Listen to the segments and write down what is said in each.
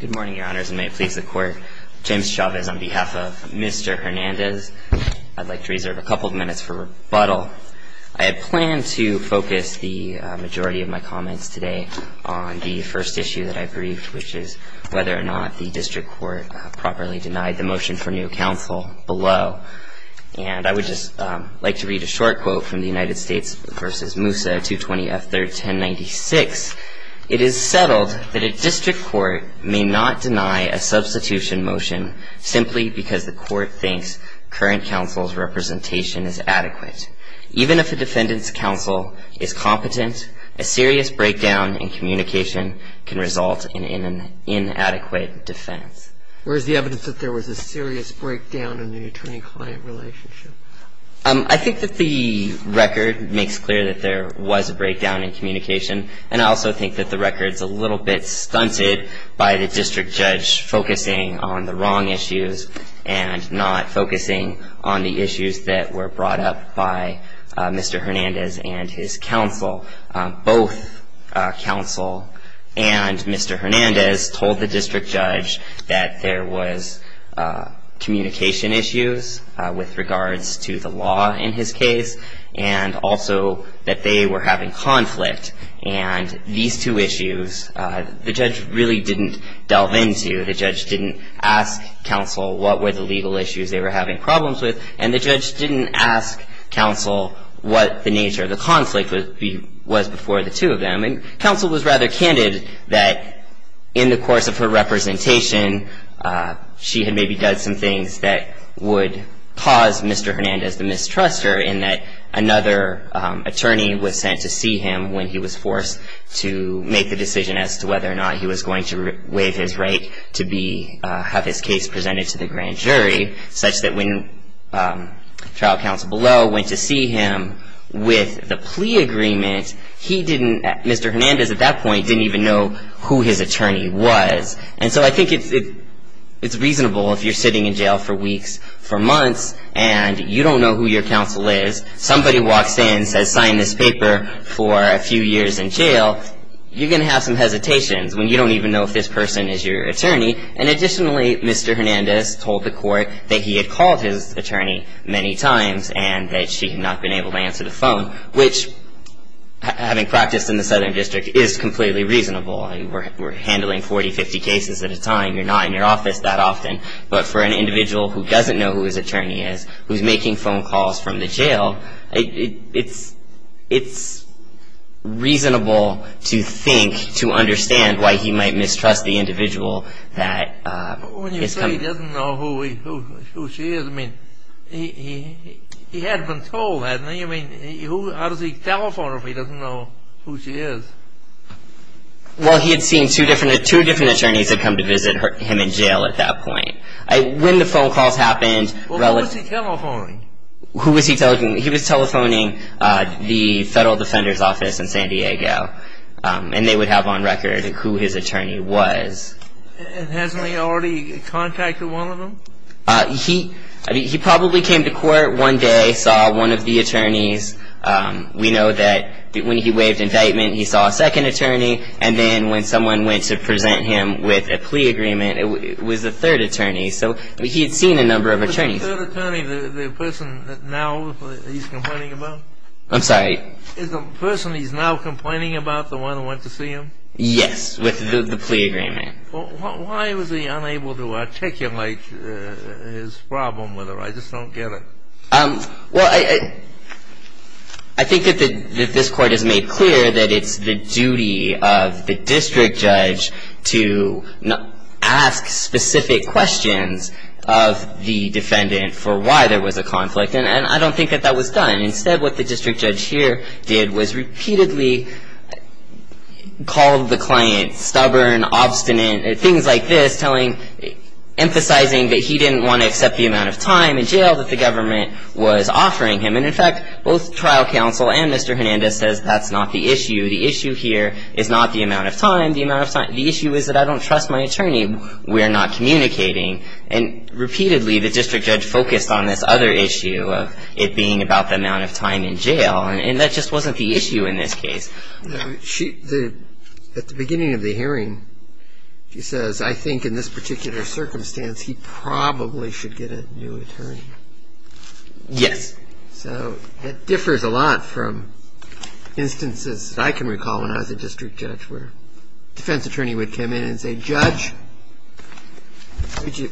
Good morning, Your Honors, and may it please the Court, James Chavez on behalf of Mr. Hernandez. I'd like to reserve a couple of minutes for rebuttal. I had planned to focus the majority of my comments today on the first issue that I briefed, which is whether or not the District Court properly denied the motion for new counsel below. And I would just like to read a short quote from the United States v. Moussa, 220 F. 3rd, 1096. It is settled that a District Court may not deny a substitution motion simply because the Court thinks current counsel's representation is adequate. Even if a defendant's counsel is competent, a serious breakdown in communication can result in an inadequate defense. Where is the evidence that there was a serious breakdown in the attorney-client relationship? I think that the record makes clear that there was a breakdown in communication, and I also think that the record's a little bit stunted by the district judge focusing on the wrong issues and not focusing on the issues that were brought up by Mr. Hernandez and his counsel. Both counsel and Mr. Hernandez told the district judge that there was communication issues with regards to the law in his case, and also that they were having conflict. And these two issues, the judge really didn't delve into. The judge didn't ask counsel what were the legal issues they were having problems with, and the judge didn't ask counsel what the nature of the conflict was before the two of them. And counsel was rather candid that in the course of her representation, she had maybe done some things that would cause Mr. Hernandez to mistrust her, in that another attorney was sent to see him when he was forced to make the decision as to whether or not he was going to waive his right to have his case presented to the grand jury, such that when trial counsel below went to see him with the plea agreement, Mr. Hernandez at that point didn't even know who his attorney was. And so I think it's reasonable if you're sitting in jail for weeks, for months, and you don't know who your counsel is. Somebody walks in, says, sign this paper for a few years in jail. You're going to have some hesitations when you don't even know if this person is your attorney. And additionally, Mr. Hernandez told the court that he had called his attorney many times and that she had not been able to answer the phone, which, having practiced in the Southern District, is completely reasonable. We're handling 40, 50 cases at a time. You're not in your office that often. But for an individual who doesn't know who his attorney is, who's making phone calls from the jail, it's reasonable to think, to understand why he might mistrust the individual that is coming. But when you say he doesn't know who she is, I mean, he had been told that. How does he telephone her if he doesn't know who she is? Well, he had seen two different attorneys had come to visit him in jail at that point. When the phone calls happened, relative- Well, who was he telephoning? Who was he telephoning? He was telephoning the Federal Defender's Office in San Diego, and they would have on record who his attorney was. And hasn't he already contacted one of them? He probably came to court one day, saw one of the attorneys. We know that when he waived indictment, he saw a second attorney. And then when someone went to present him with a plea agreement, it was a third attorney. So he had seen a number of attorneys. The third attorney, the person now he's complaining about? I'm sorry? The person he's now complaining about, the one who went to see him? Yes, with the plea agreement. Why was he unable to articulate his problem with her? I just don't get it. Well, I think that this Court has made clear that it's the duty of the district judge to ask specific questions of the defendant for why there was a conflict. And I don't think that that was done. Instead, what the district judge here did was repeatedly call the client stubborn, obstinate, things like this, emphasizing that he didn't want to accept the amount of time in jail that the government was offering him. And in fact, both trial counsel and Mr. Hernandez says that's not the issue. The issue here is not the amount of time. The issue is that I don't trust my attorney. We're not communicating. And repeatedly, the district judge focused on this other issue of it being about the amount of time in jail. And that just wasn't the issue in this case. At the beginning of the hearing, she says, I think in this particular circumstance, he probably should get a new attorney. Yes. So it differs a lot from instances I can recall when I was a district judge where a defense attorney would come in and say, Judge,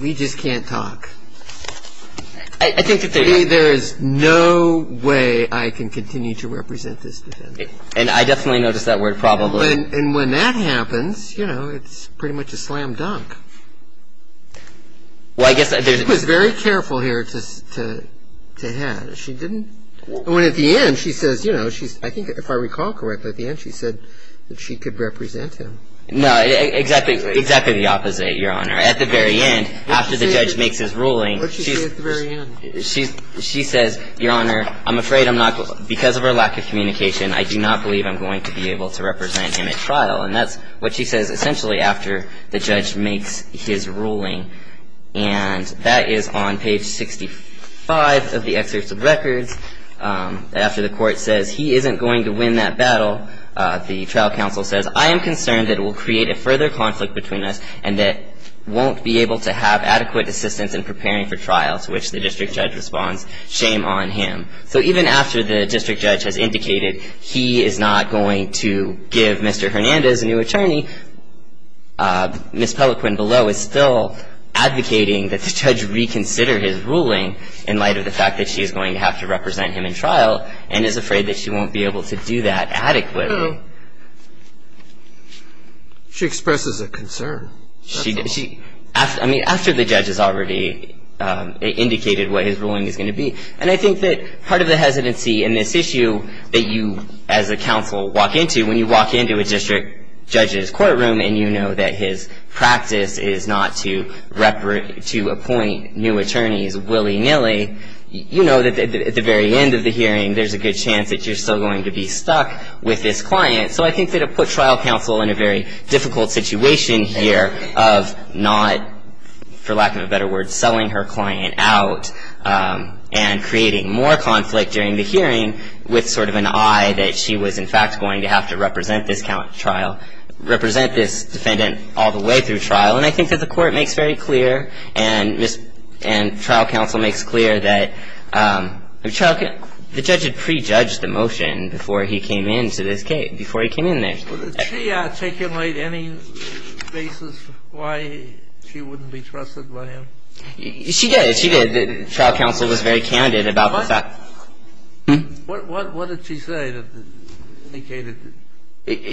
we just can't talk. I think that there's no way I can continue to represent this defense. And I definitely noticed that word probably. And when that happens, you know, it's pretty much a slam dunk. She was very careful here to have. When at the end, she says, you know, I think if I recall correctly, at the end she said that she could represent him. No, exactly the opposite, Your Honor. At the very end, after the judge makes his ruling, she says, Your Honor, I'm afraid because of her lack of communication, I do not believe I'm going to be able to represent him at trial. And that's what she says essentially after the judge makes his ruling. And that is on page 65 of the excerpt of records. After the court says he isn't going to win that battle, the trial counsel says, I am concerned that it will create a further conflict between us and that won't be able to have adequate assistance in preparing for trial, to which the district judge responds, shame on him. So even after the district judge has indicated he is not going to give Mr. Hernandez a new attorney, Ms. Pelloquin below is still advocating that the judge reconsider his ruling in light of the fact that she is going to have to represent him in trial and is afraid that she won't be able to do that adequately. She expresses a concern. I mean, after the judge has already indicated what his ruling is going to be. And I think that part of the hesitancy in this issue that you, as a counsel, walk into when you walk into a district judge's courtroom and you know that his practice is not to appoint new attorneys willy-nilly, you know that at the very end of the hearing there's a good chance that you're still going to be stuck with this client. So I think that it would put trial counsel in a very difficult situation here of not, for lack of a better word, selling her client out and creating more conflict during the hearing with sort of an eye that she was, in fact, going to have to represent this defendant all the way through trial. And I think that the court makes very clear and trial counsel makes clear that the judge should prejudge the motion before he came into this case, before he came in there. Did she articulate any basis why she wouldn't be trusted by him? She did. She did. Trial counsel was very candid about the fact. What did she say that indicated?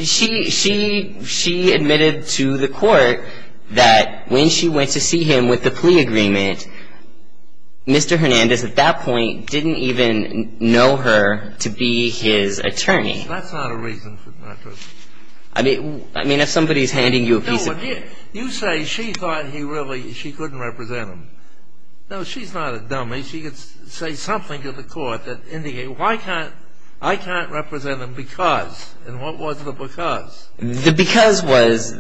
She admitted to the court that when she went to see him with the plea agreement, Mr. Hernandez at that point didn't even know her to be his attorney. That's not a reason for her not to. I mean, if somebody's handing you a piece of paper. No, but you say she thought he really, she couldn't represent him. No, she's not a dummy. She could say something to the court that indicated, I can't represent him because, and what was the because? The because was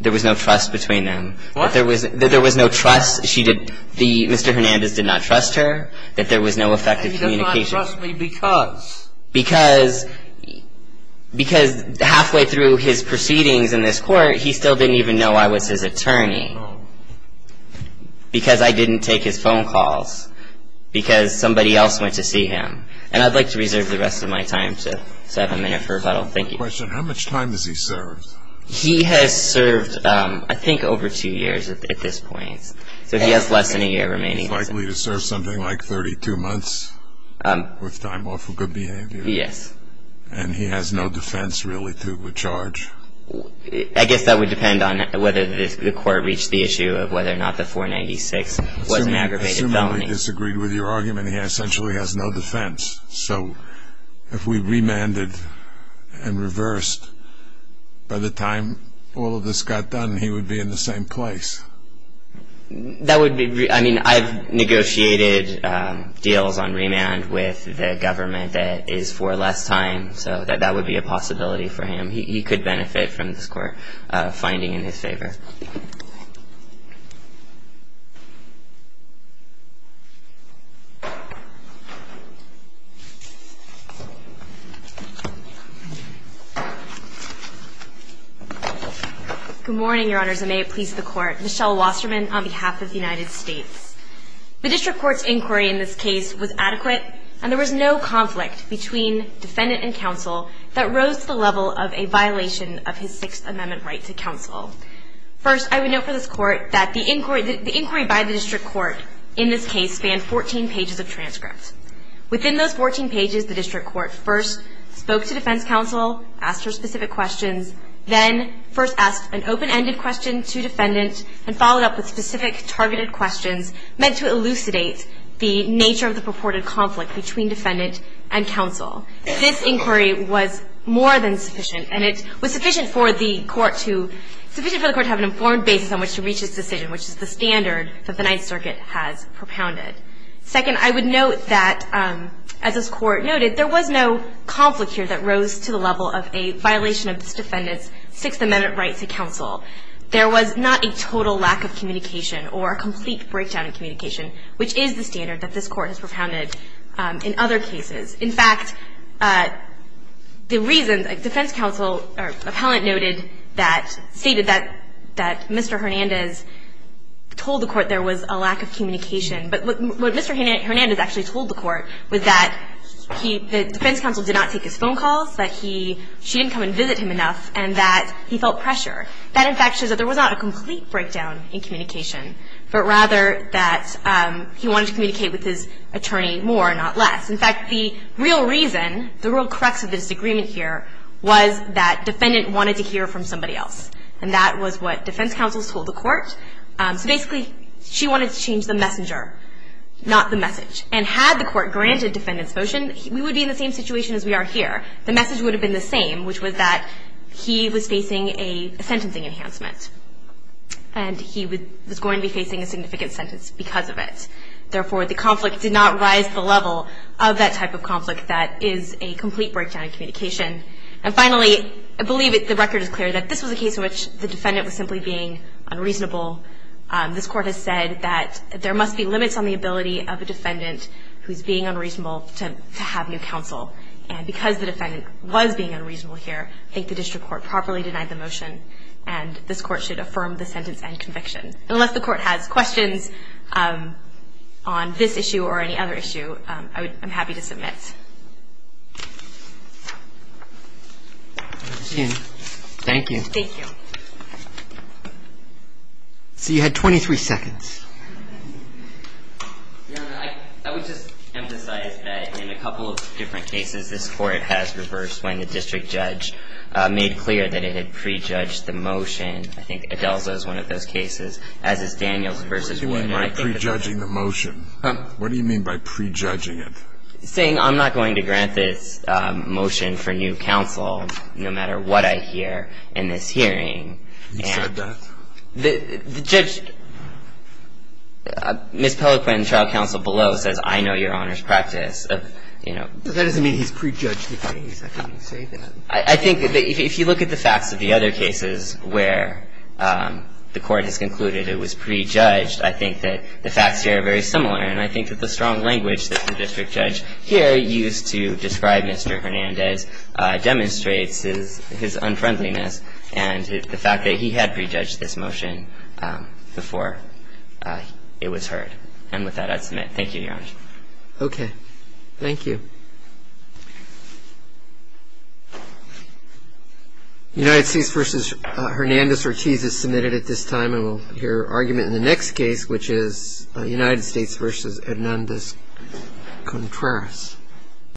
there was no trust between them. What? That there was no trust, she did, Mr. Hernandez did not trust her, that there was no effective communication. And he does not trust me because? Because halfway through his proceedings in this court, he still didn't even know I was his attorney. Because I didn't take his phone calls. Because somebody else went to see him. And I'd like to reserve the rest of my time to have a minute for rebuttal. Thank you. Question, how much time has he served? He has served, I think, over two years at this point. So he has less than a year remaining. He's likely to serve something like 32 months with time off for good behavior. Yes. And he has no defense really to charge? I guess that would depend on whether the court reached the issue of whether or not the 496 was an aggravated felony. Assuming we disagreed with your argument, he essentially has no defense. So if we remanded and reversed, by the time all of this got done, he would be in the same place. That would be real. I mean, I've negotiated deals on remand with the government that is for less time. So that would be a possibility for him. Good morning, Your Honors. And may it please the Court. Michelle Wasserman on behalf of the United States. The district court's inquiry in this case was adequate, and there was no conflict between defendant and counsel that rose to the level of a vote of no confidence. And I would like to ask the court to consider this case. First, I would note for this court that the inquiry by the district court in this case spanned 14 pages of transcripts. Within those 14 pages, the district court first spoke to defense counsel, asked her specific questions, then first asked an open-ended question to defendant, and followed up with specific targeted questions meant to elucidate the nature of the purported conflict between defendant and counsel. This inquiry was more than sufficient, and it was sufficient for the court to have an informed basis on which to reach its decision, which is the standard that the Ninth Circuit has propounded. Second, I would note that, as this court noted, there was no conflict here that rose to the level of a violation of this defendant's Sixth Amendment right to counsel. There was not a total lack of communication or a complete breakdown in communication, which is the standard that this court has propounded in other cases. In fact, the reason defense counsel or appellant noted that, stated that Mr. Hernandez told the court there was a lack of communication, but what Mr. Hernandez actually told the court was that he, the defense counsel did not take his phone calls, that he, she didn't come and visit him enough, and that he felt pressure. That, in fact, shows that there was not a complete breakdown in communication, but rather that he wanted to communicate with his attorney more, not less. In fact, the real reason, the real crux of the disagreement here was that defendant wanted to hear from somebody else. And that was what defense counsels told the court. So basically, she wanted to change the messenger, not the message. And had the court granted defendant's motion, we would be in the same situation as we are here. The message would have been the same, which was that he was facing a sentencing enhancement, and he was going to be facing a significant sentence because of it. Therefore, the conflict did not rise to the level of that type of conflict that is a complete breakdown in communication. And finally, I believe the record is clear that this was a case in which the defendant was simply being unreasonable. This Court has said that there must be limits on the ability of a defendant who is being unreasonable to have new counsel. And because the defendant was being unreasonable here, I think the district court properly denied the motion, and this Court should affirm the sentence and conviction. Unless the court has questions on this issue or any other issue, I'm happy to submit. Thank you. Thank you. So you had 23 seconds. Your Honor, I would just emphasize that in a couple of different cases, this Court has reversed when the district judge made clear that it had prejudged the motion. And I think Adelza is one of those cases, as is Daniels v. Warner. What do you mean by prejudging the motion? What do you mean by prejudging it? He's saying I'm not going to grant this motion for new counsel, no matter what I hear in this hearing. He said that? The judge, Ms. Pellequin, trial counsel below says, I know your Honor's practice. That doesn't mean he's prejudged the case. How can you say that? I think that if you look at the facts of the other cases where the Court has concluded it was prejudged, I think that the facts here are very similar. And I think that the strong language that the district judge here used to describe Mr. Hernandez demonstrates his unfriendliness and the fact that he had prejudged this motion before it was heard. And with that, I submit. Thank you, Your Honor. Okay. Thank you. Thank you. United States v. Hernandez-Ortiz is submitted at this time. And we'll hear argument in the next case, which is United States v. Hernandez-Contreras.